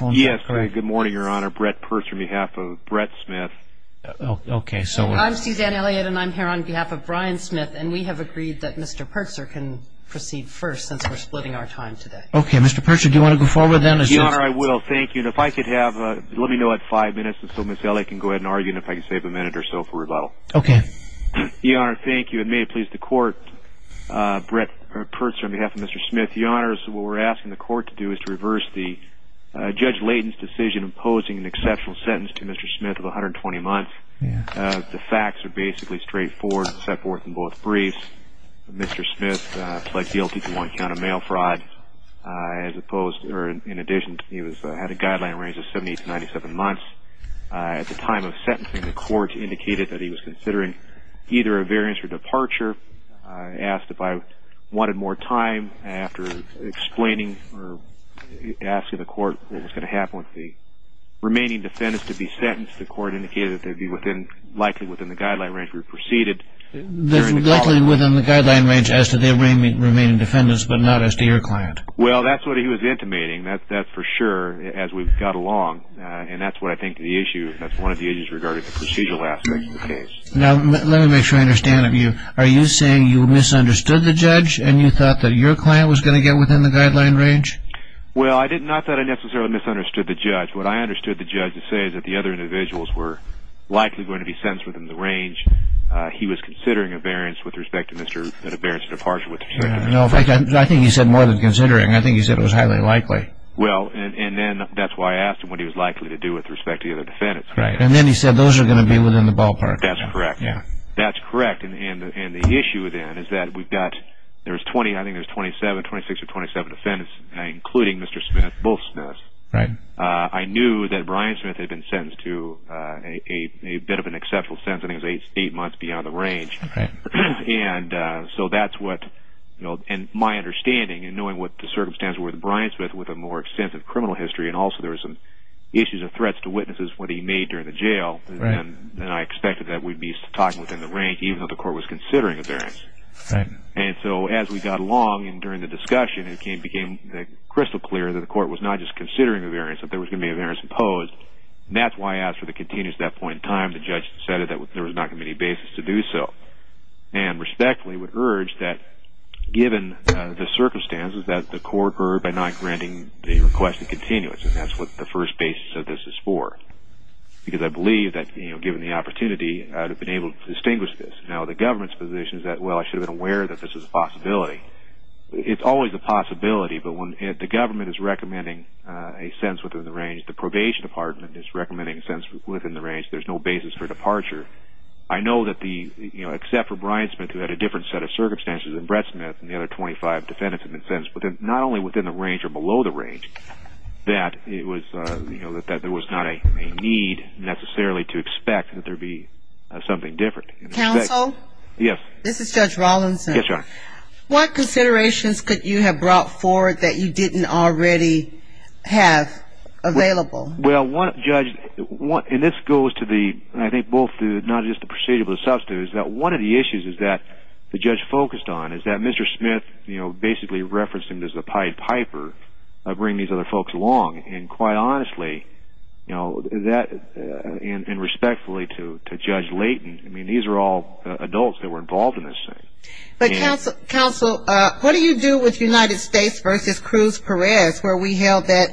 and we have agreed that Mr. Purser can proceed first since we're splitting our time today. Okay, Mr. Purser, do you want to go forward then? Your Honor, I will. Thank you. If I could have, let me know at five minutes so Ms. Elliott can go ahead and argue and if I can save a minute or so for rebuttal. Okay. Your Honor, thank you. And may it please the Court, Purser, on behalf of Mr. Smith, that was made by Mr. Purser on behalf of Mr. Smith. In Judge Layton's decision imposing an exceptional sentence to Mr. Smith of 120 months, the facts are basically straightforward and set forth in both briefs. Mr. Smith pled guilty to one count of mail fraud. In addition, he had a guideline range of 70 to 97 months. At the time of sentencing, the Court indicated that he was considering either a variance or departure. I asked if I wanted more time. After explaining or asking the Court what was going to happen with the remaining defendants to be sentenced, the Court indicated that they would be likely within the guideline range if we proceeded. Likely within the guideline range as to the remaining defendants but not as to your client. Well, that's what he was intimating. That's for sure as we got along and that's what I think the issue, Now, let me make sure I understand. Are you saying you misunderstood the judge and you thought that your client was going to get within the guideline range? Well, I did not think I necessarily misunderstood the judge. What I understood the judge to say is that the other individuals were likely going to be sentenced within the range. He was considering a variance with respect to Mr. Smith's departure. I think he said more than considering. I think he said it was highly likely. Well, and then that's why I asked him what he was likely to do with respect to the other defendants. Right, and then he said those are going to be within the ballpark. That's correct. Yeah. That's correct and the issue then is that we've got, there's 20, I think there's 27, 26 or 27 defendants including Mr. Smith, both Smiths. Right. I knew that Brian Smith had been sentenced to a bit of an exceptional sentence. I think it was eight months beyond the range. Right. And so that's what, you know, and my understanding and knowing what the circumstances were, was that Brian Smith with a more extensive criminal history and also there were some issues and threats to witnesses when he made during the jail. Right. And I expected that we'd be talking within the rank even though the court was considering a variance. Right. And so as we got along and during the discussion it became crystal clear that the court was not just considering a variance, that there was going to be a variance imposed. And that's why I asked for the continuity at that point in time. The judge said that there was not going to be any basis to do so. And respectfully would urge that given the circumstances that the court heard by not granting the request of continuance. And that's what the first basis of this is for. Because I believe that, you know, given the opportunity, I would have been able to distinguish this. Now the government's position is that, well, I should have been aware that this is a possibility. It's always a possibility, but when the government is recommending a sentence within the range, the probation department is recommending a sentence within the range, there's no basis for departure. I know that the, you know, except for Brian Smith who had a different set of circumstances and Brett Smith and the other 25 defendants have been sentenced. But not only within the range or below the range, that it was, you know, that there was not a need necessarily to expect that there be something different. Counsel? Yes. This is Judge Rawlinson. Yes, Your Honor. What considerations could you have brought forward that you didn't already have available? Well, Judge, and this goes to the, I think both the, not just the precedents but the substitutes, that one of the issues is that the judge focused on is that Mr. Smith, you know, basically referenced him as a pied piper of bringing these other folks along. And quite honestly, you know, that, and respectfully to Judge Layton, I mean, these are all adults that were involved in this thing. But, Counsel, what do you do with United States v. Cruz Perez, where we held that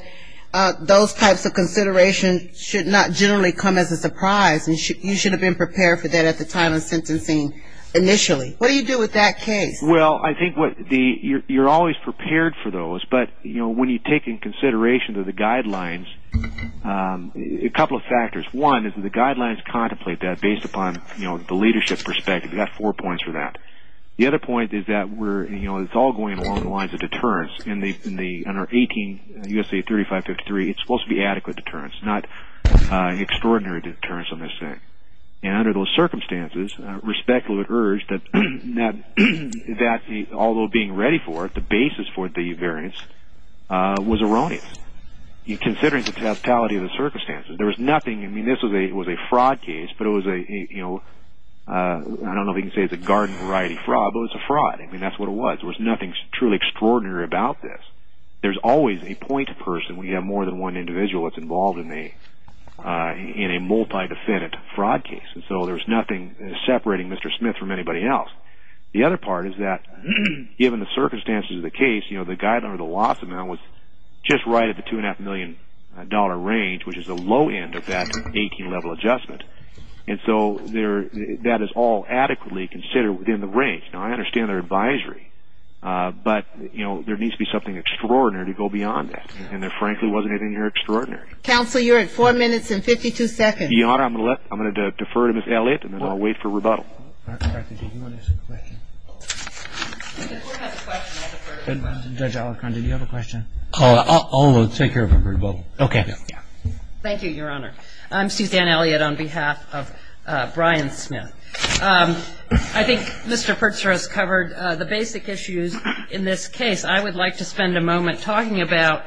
those types of considerations should not generally come as a surprise and you should have been prepared for that at the time of sentencing initially? What do you do with that case? Well, I think what the, you're always prepared for those. But, you know, when you take into consideration the guidelines, a couple of factors. One is that the guidelines contemplate that based upon, you know, the leadership perspective. We've got four points for that. The other point is that we're, you know, it's all going along the lines of deterrence. In our 18 U.S.A. 3553, it's supposed to be adequate deterrence, not extraordinary deterrence on this thing. And under those circumstances, respectfully we've urged that although being ready for it, the basis for the variance was erroneous. Considering the totality of the circumstances, there was nothing, I mean, this was a fraud case, but it was a, you know, I don't know if you can say it's a garden variety fraud, but it was a fraud. I mean, that's what it was. There was nothing truly extraordinary about this. There's always a point person when you have more than one individual that's involved in a multi-defendant fraud case. And so there was nothing separating Mr. Smith from anybody else. The other part is that given the circumstances of the case, you know, the guideline or the loss amount was just right at the $2.5 million range, which is the low end of that 18-level adjustment. And so that is all adequately considered within the range. Now, I understand their advisory, but, you know, there needs to be something extraordinary to go beyond that. And there frankly wasn't anything extraordinary. Counsel, you're at four minutes and 52 seconds. Your Honor, I'm going to defer to Ms. Elliott, and then I'll wait for rebuttal. Judge Alicante, do you have a question? I'll take your rebuttal. Okay. Thank you, Your Honor. I'm Suzanne Elliott on behalf of Brian Smith. I think Mr. Pertzer has covered the basic issues in this case. I would like to spend a moment talking about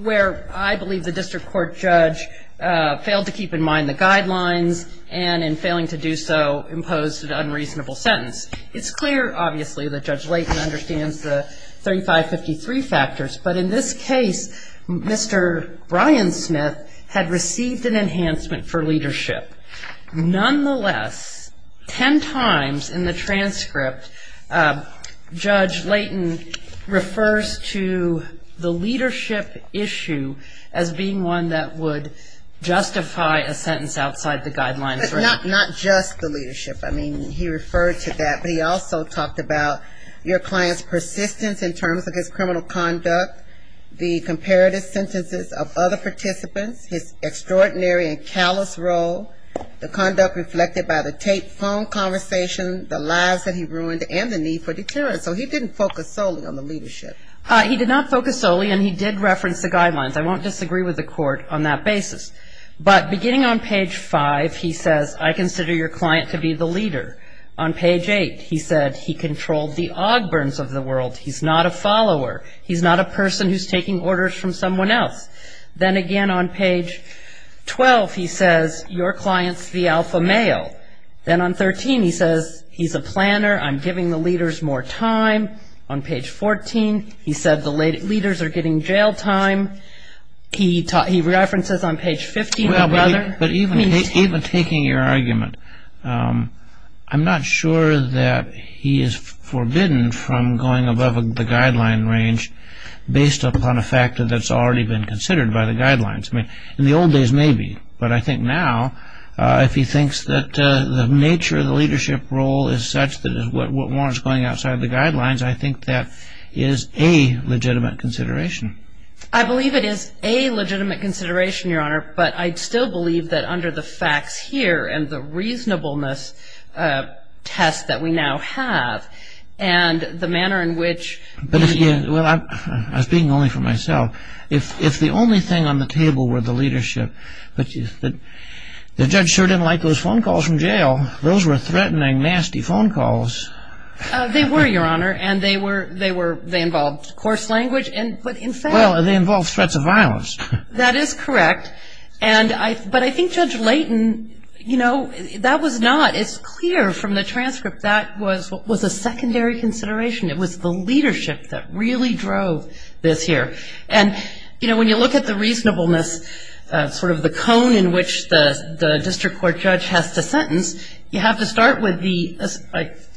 where I believe the district court judge failed to keep in mind the guidelines and in failing to do so imposed an unreasonable sentence. It's clear, obviously, that Judge Layton understands the 3553 factors, but in this case Mr. Brian Smith had received an enhancement for leadership. Nonetheless, ten times in the transcript, Judge Layton refers to the leadership issue as being one that would justify a sentence outside the guidelines. But not just the leadership. I mean, he referred to that, but he also talked about your client's persistence in terms of his criminal conduct, the comparative sentences of other participants, his extraordinary and callous role, the conduct reflected by the tape phone conversation, the lives that he ruined, and the need for deterrence. So he didn't focus solely on the leadership. He did not focus solely, and he did reference the guidelines. I won't disagree with the court on that basis. But beginning on page five, he says, I consider your client to be the leader. On page eight, he said he controlled the Ogburns of the world. He's not a follower. He's not a person who's taking orders from someone else. Then again on page 12, he says your client's the alpha male. Then on 13, he says he's a planner. I'm giving the leaders more time. On page 14, he said the leaders are getting jail time. He references on page 15. But even taking your argument, I'm not sure that he is forbidden from going above the guideline range based upon a factor that's already been considered by the guidelines. I mean, in the old days, maybe. But I think now, if he thinks that the nature of the leadership role is such that is what was going outside the guidelines, I think that is a legitimate consideration. I believe it is a legitimate consideration, Your Honor. But I still believe that under the facts here and the reasonableness test that we now have and the manner in which he is. Well, I'm speaking only for myself. If the only thing on the table were the leadership, the judge sure didn't like those phone calls from jail. Those were threatening, nasty phone calls. They were, Your Honor. And they involved coarse language. Well, they involved threats of violence. That is correct. But I think Judge Layton, you know, that was not as clear from the transcript. That was a secondary consideration. It was the leadership that really drove this here. And, you know, when you look at the reasonableness, sort of the cone in which the district court judge has to sentence, you have to start with the,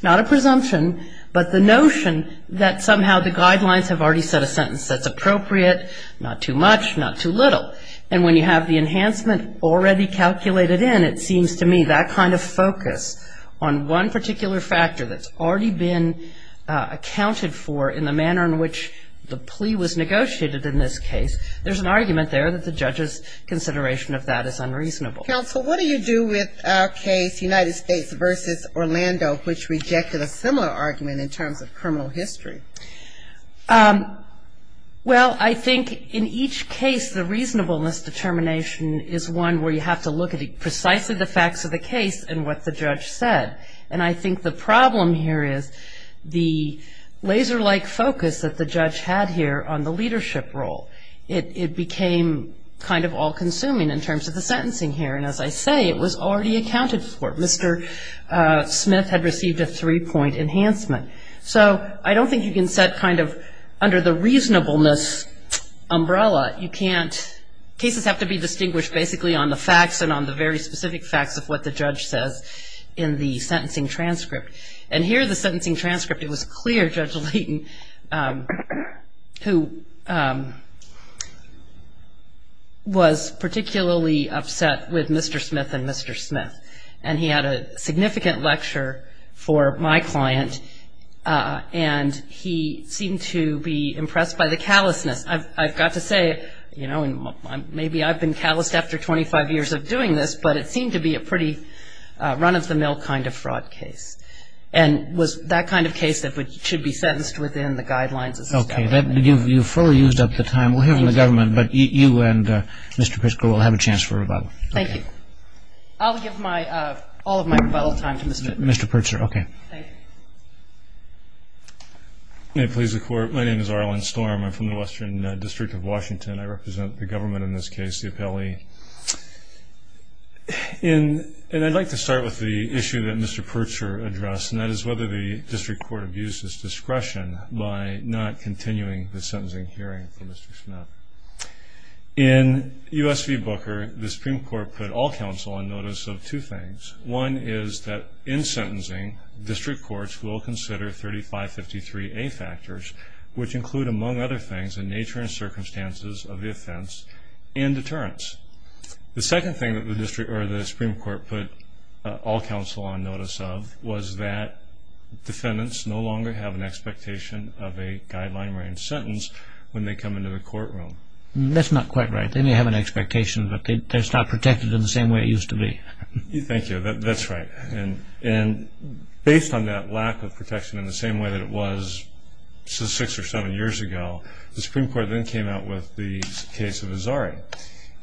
not a presumption, but the notion that somehow the guidelines have already set a sentence that's appropriate, not too much, not too little. And when you have the enhancement already calculated in, it seems to me that kind of focus on one particular factor that's already been accounted for in the manner in which the plea was negotiated in this case, there's an argument there that the judge's consideration of that is unreasonable. Counsel, what do you do with our case, United States v. Orlando, which rejected a similar argument in terms of criminal history? Well, I think in each case, the reasonableness determination is one where you have to look at precisely the facts of the case and what the judge said. And I think the problem here is the laser-like focus that the judge had here on the leadership role. It became kind of all-consuming in terms of the sentencing here. And as I say, it was already accounted for. Mr. Smith had received a three-point enhancement. So I don't think you can set kind of under the reasonableness umbrella. You can't. Cases have to be distinguished basically on the facts and on the very specific facts of what the judge says in the sentencing transcript. And here, the sentencing transcript, it was clear Judge Layton, who was particularly upset with Mr. Smith and Mr. Smith, and he had a significant lecture for my client, and he seemed to be impressed by the callousness. I've got to say, you know, maybe I've been calloused after 25 years of doing this, but it seemed to be a pretty run-of-the-mill kind of fraud case. And it was that kind of case that should be sentenced within the guidelines. Okay. You've fully used up the time. We'll hear from the government, but you and Mr. Pritzker will have a chance for a rebuttal. Thank you. I'll give all of my rebuttal time to Mr. Pritzker. Mr. Pritzker, okay. Thank you. May it please the Court, my name is Arlen Storm. I'm from the Western District of Washington. I represent the government in this case, the appellee. And I'd like to start with the issue that Mr. Pritzker addressed, and that is whether the district court abuses discretion by not continuing the sentencing hearing for Mr. Smith. In U.S. v. Booker, the Supreme Court put all counsel on notice of two things. One is that in sentencing, district courts will consider 3553A factors, which include, among other things, the nature and circumstances of the offense and deterrence. The second thing that the Supreme Court put all counsel on notice of was that defendants no longer have an expectation of a guideline-range sentence when they come into the courtroom. That's not quite right. They may have an expectation, but it's not protected in the same way it used to be. Thank you. That's right. And based on that lack of protection in the same way that it was six or seven years ago, the Supreme Court then came out with the case of Azari.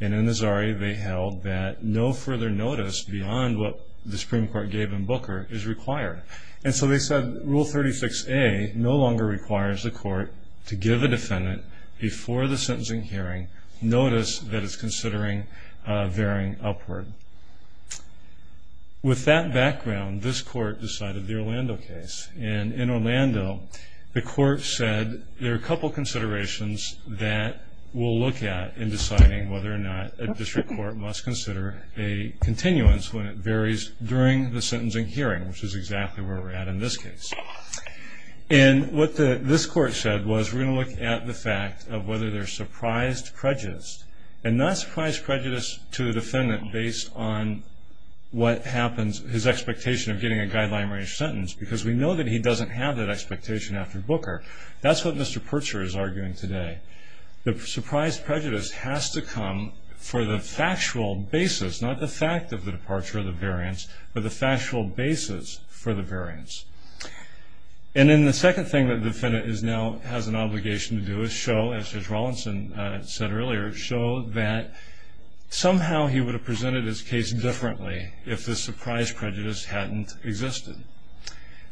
And in Azari, they held that no further notice beyond what the Supreme Court gave in Booker is required. And so they said Rule 36A no longer requires the court to give a defendant, before the sentencing hearing, notice that it's considering varying upward. With that background, this court decided the Orlando case. And in Orlando, the court said there are a couple considerations that we'll look at in deciding whether or not a district court must consider a continuance when it varies during the sentencing hearing, which is exactly where we're at in this case. And what this court said was we're going to look at the fact of whether there's surprised prejudice, and not surprised prejudice to the defendant based on what happens, his expectation of getting a guideline range sentence, because we know that he doesn't have that expectation after Booker. That's what Mr. Purcher is arguing today. The surprised prejudice has to come for the factual basis, not the fact of the departure of the variance, but the factual basis for the variance. And then the second thing that the defendant now has an obligation to do is show, as Judge Rawlinson said earlier, show that somehow he would have presented his case differently if the surprised prejudice hadn't existed.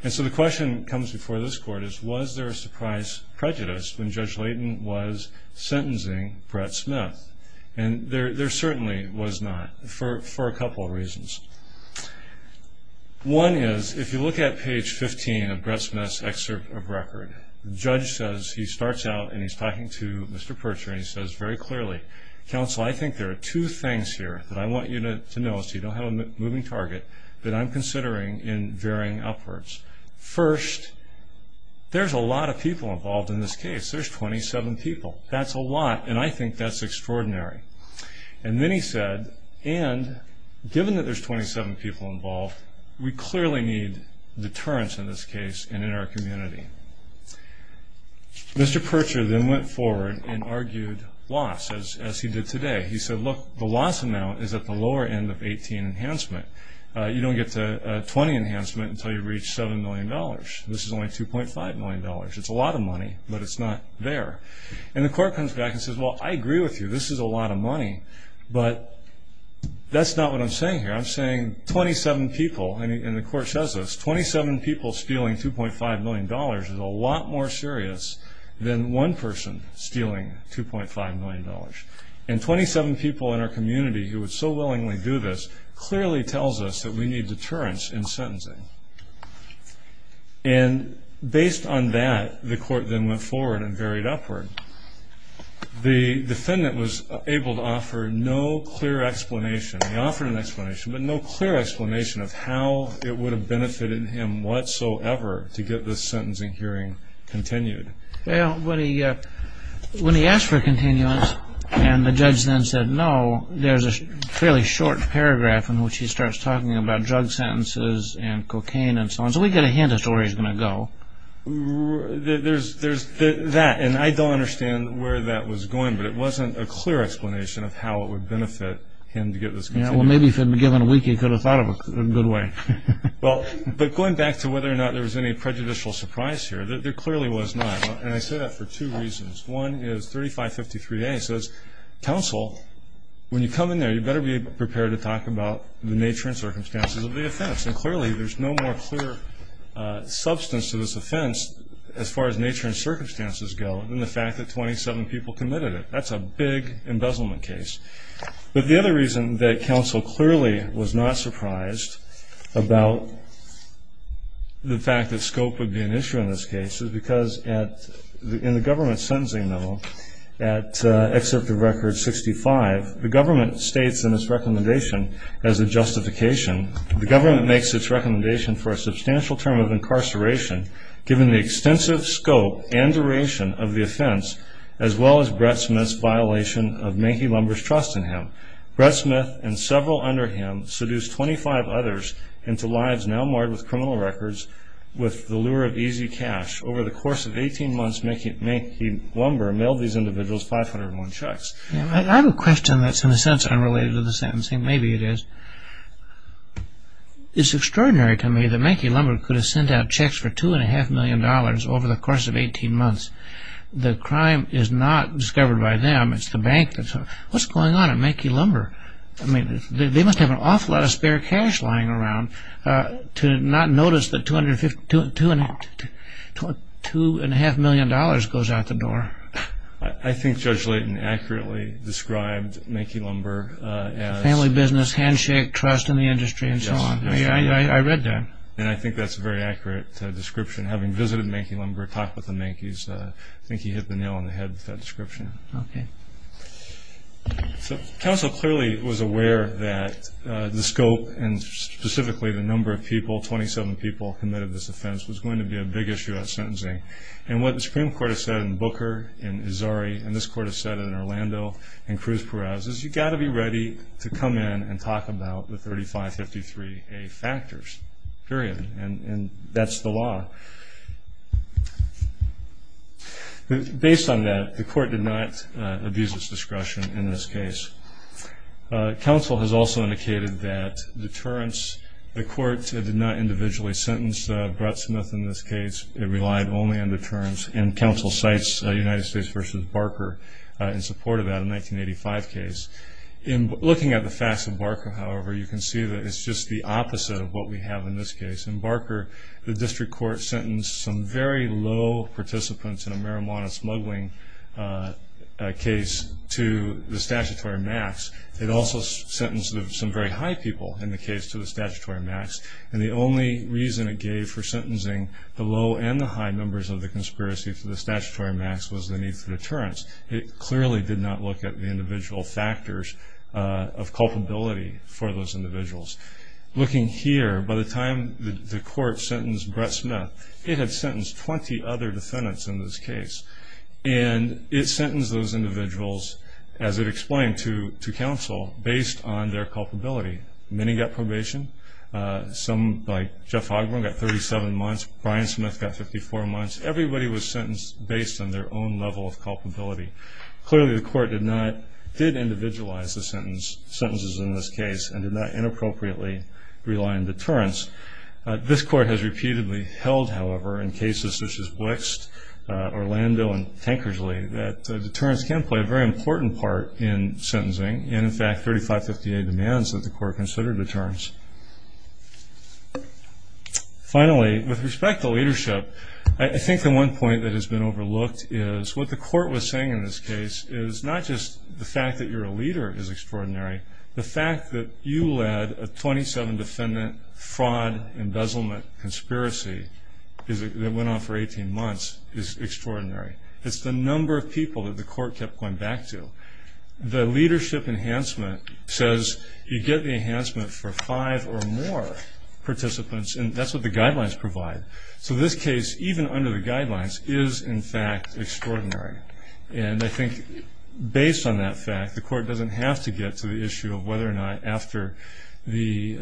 And so the question that comes before this court is, was there a surprised prejudice when Judge Layton was sentencing Brett Smith? And there certainly was not, for a couple of reasons. One is, if you look at page 15 of Brett Smith's excerpt of record, the judge says he starts out and he's talking to Mr. Purcher and he says very clearly, counsel, I think there are two things here that I want you to know, so you don't have a moving target, that I'm considering in varying upwards. First, there's a lot of people involved in this case. There's 27 people. That's a lot, and I think that's extraordinary. And then he said, and given that there's 27 people involved, we clearly need deterrence in this case and in our community. Mr. Purcher then went forward and argued loss, as he did today. He said, look, the loss amount is at the lower end of 18 enhancement. You don't get to 20 enhancement until you reach $7 million. This is only $2.5 million. It's a lot of money, but it's not there. And the court comes back and says, well, I agree with you. This is a lot of money, but that's not what I'm saying here. I'm saying 27 people, and the court says this, 27 people stealing $2.5 million is a lot more serious than one person stealing $2.5 million. And 27 people in our community who would so willingly do this clearly tells us that we need deterrence in sentencing. And based on that, the court then went forward and varied upward. The defendant was able to offer no clear explanation. He offered an explanation, but no clear explanation of how it would have benefited him whatsoever to get this sentencing hearing continued. Well, when he asked for continuance and the judge then said no, there's a fairly short paragraph in which he starts talking about drug sentences and cocaine and so on. So we get a hint as to where he's going to go. There's that, and I don't understand where that was going, but it wasn't a clear explanation of how it would benefit him to get this. Well, maybe if he had been given a week, he could have thought of it in a good way. But going back to whether or not there was any prejudicial surprise here, there clearly was not, and I say that for two reasons. One is 3553A says, counsel, when you come in there, you better be prepared to talk about the nature and circumstances of the offense. And clearly there's no more clear substance to this offense as far as nature and circumstances go than the fact that 27 people committed it. That's a big embezzlement case. But the other reason that counsel clearly was not surprised about the fact that scope would be an issue in this case is because in the government sentencing memo at Excerpt of Record 65, the government states in its recommendation as a justification, the government makes its recommendation for a substantial term of incarceration given the extensive scope and duration of the offense as well as Brett Smith's violation of Manky Lumber's trust in him. Brett Smith and several under him seduced 25 others into lives now marred with criminal records with the lure of easy cash. Over the course of 18 months, Manky Lumber mailed these individuals 501 checks. I have a question that's in a sense unrelated to the sentencing. Maybe it is. It's extraordinary to me that Manky Lumber could have sent out checks for $2.5 million over the course of 18 months. The crime is not discovered by them. It's the bank. What's going on at Manky Lumber? I mean, they must have an awful lot of spare cash lying around to not notice that $2.5 million goes out the door. I think Judge Layton accurately described Manky Lumber as family business, handshake, trust in the industry, and so on. I read that. And I think that's a very accurate description. Having visited Manky Lumber, talked with the Mankys, I think he hit the nail on the head with that description. Okay. So counsel clearly was aware that the scope and specifically the number of people, 27 people, committed this offense was going to be a big issue at sentencing. And what the Supreme Court has said in Booker and Azari and this court has said in Orlando and Cruz-Perez is you've got to be ready to come in and talk about the 3553A factors, period. And that's the law. Based on that, the court did not abuse its discretion in this case. Counsel has also indicated that deterrence, the court did not individually sentence Brutsmith in this case. It relied only on deterrence. And counsel cites United States v. Barker in support of that in the 1985 case. Looking at the facts of Barker, however, you can see that it's just the opposite of what we have in this case. In Barker, the district court sentenced some very low participants in a marijuana smuggling case to the statutory max. It also sentenced some very high people in the case to the statutory max. And the only reason it gave for sentencing the low and the high numbers of the conspiracy to the statutory max was the need for deterrence. It clearly did not look at the individual factors of culpability for those individuals. Looking here, by the time the court sentenced Brutsmith, it had sentenced 20 other defendants in this case. And it sentenced those individuals, as it explained to counsel, based on their culpability. Many got probation. Some, like Jeff Ogburn, got 37 months. Brian Smith got 54 months. Everybody was sentenced based on their own level of culpability. Clearly, the court did individualize the sentences in this case and did not inappropriately rely on deterrence. This court has repeatedly held, however, in cases such as Wixt, Orlando, and Tankersley, that deterrence can play a very important part in sentencing. And, in fact, 3558 demands that the court consider deterrence. Finally, with respect to leadership, I think the one point that has been overlooked is what the court was saying in this case is not just the fact that you're a leader is extraordinary. The fact that you led a 27-defendant fraud embezzlement conspiracy that went on for 18 months is extraordinary. It's the number of people that the court kept going back to. The leadership enhancement says you get the enhancement for five or more participants, and that's what the guidelines provide. So this case, even under the guidelines, is, in fact, extraordinary. And I think, based on that fact, the court doesn't have to get to the issue of whether or not after the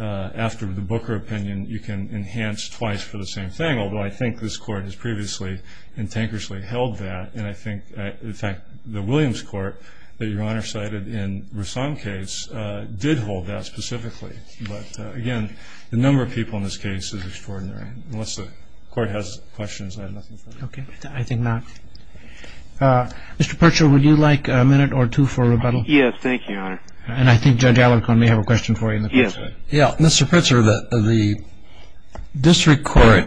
Booker opinion you can enhance twice for the same thing, although I think this court has previously in Tankersley held that. And I think, in fact, the Williams court that Your Honor cited in Rouson's case did hold that specifically. But, again, the number of people in this case is extraordinary. Unless the court has questions, I have nothing further to say. Okay. I think not. Mr. Pritzker, would you like a minute or two for rebuttal? Yes, thank you, Your Honor. And I think Judge Alarcon may have a question for you. Yes. Yeah, Mr. Pritzker, the district court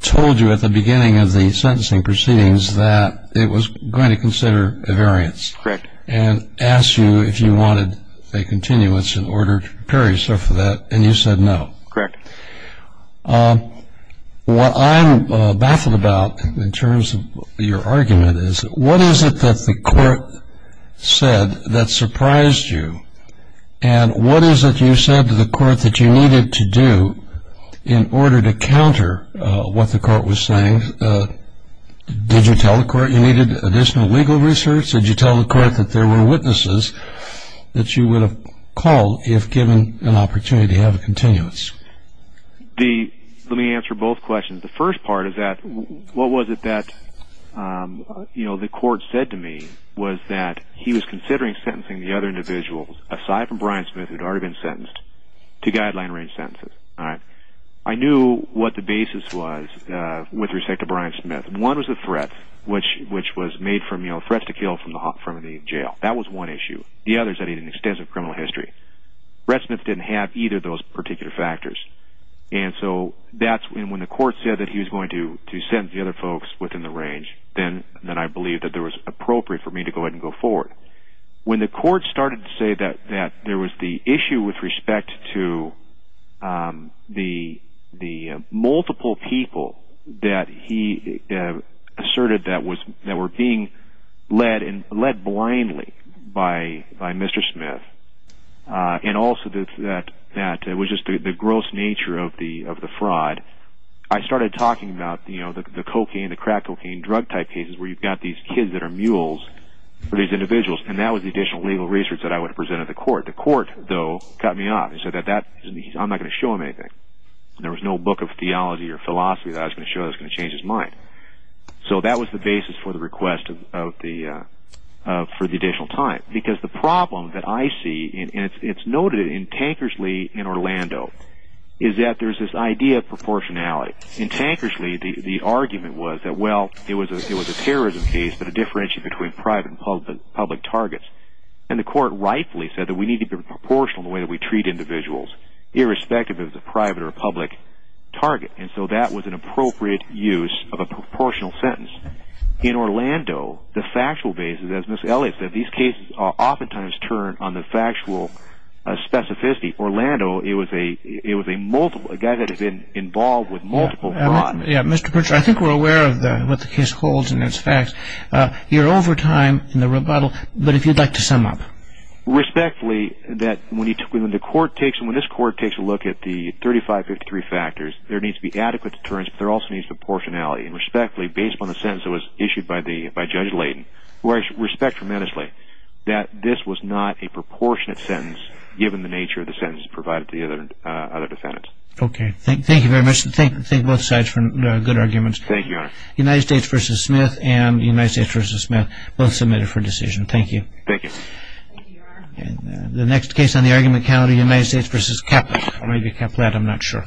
told you at the beginning of the sentencing proceedings that it was going to consider a variance. Correct. And asked you if you wanted a continuance in order to prepare yourself for that, and you said no. Correct. What I'm baffled about in terms of your argument is what is it that the court said that surprised you, and what is it you said to the court that you needed to do in order to counter what the court was saying? Did you tell the court you needed additional legal research? Did you tell the court that there were witnesses that you would have called if given an opportunity to have a continuance? Let me answer both questions. The first part is what was it that the court said to me was that he was considering sentencing the other individuals, aside from Brian Smith, who had already been sentenced, to guideline-range sentences. I knew what the basis was with respect to Brian Smith. One was the threat, which was made from threats to kill from the jail. That was one issue. The other is that he had an extensive criminal history. Brett Smith didn't have either of those particular factors. When the court said that he was going to sentence the other folks within the range, then I believed that it was appropriate for me to go ahead and go forward. When the court started to say that there was the issue with respect to the multiple people that he asserted that were being led blindly by Mr. Smith, and also that it was just the gross nature of the fraud, I started talking about the crack cocaine drug type cases where you've got these kids that are mules for these individuals. That was the additional legal research that I would have presented to the court. The court, though, cut me off. They said, I'm not going to show him anything. There was no book of theology or philosophy that I was going to show that was going to change his mind. That was the basis for the request for the additional time. The problem that I see, and it's noted in Tankersley in Orlando, is that there's this idea of proportionality. In Tankersley, the argument was that it was a terrorism case, but it differentiated between private and public targets. The court rightfully said that we need to be proportional in the way that we treat individuals, irrespective of if it's a private or a public target. And so that was an appropriate use of a proportional sentence. In Orlando, the factual basis, as Ms. Elliott said, these cases oftentimes turn on the factual specificity. Orlando, it was a guy that had been involved with multiple crimes. Mr. Pritchard, I think we're aware of what the case holds and its facts. You're over time in the rebuttal, but if you'd like to sum up. Respectfully, when this court takes a look at the 3553 factors, there needs to be adequate deterrence, but there also needs to be proportionality. Respectfully, based on the sentence that was issued by Judge Layton, I respect tremendously that this was not a proportionate sentence, given the nature of the sentence provided to the other defendants. Okay. Thank you very much. Thank both sides for good arguments. Thank you, Your Honor. United States v. Smith and United States v. Smith, both submitted for decision. Thank you. Thank you, Your Honor. The next case on the argument count, United States v. Kaplan, or maybe Kaplan, I'm not sure.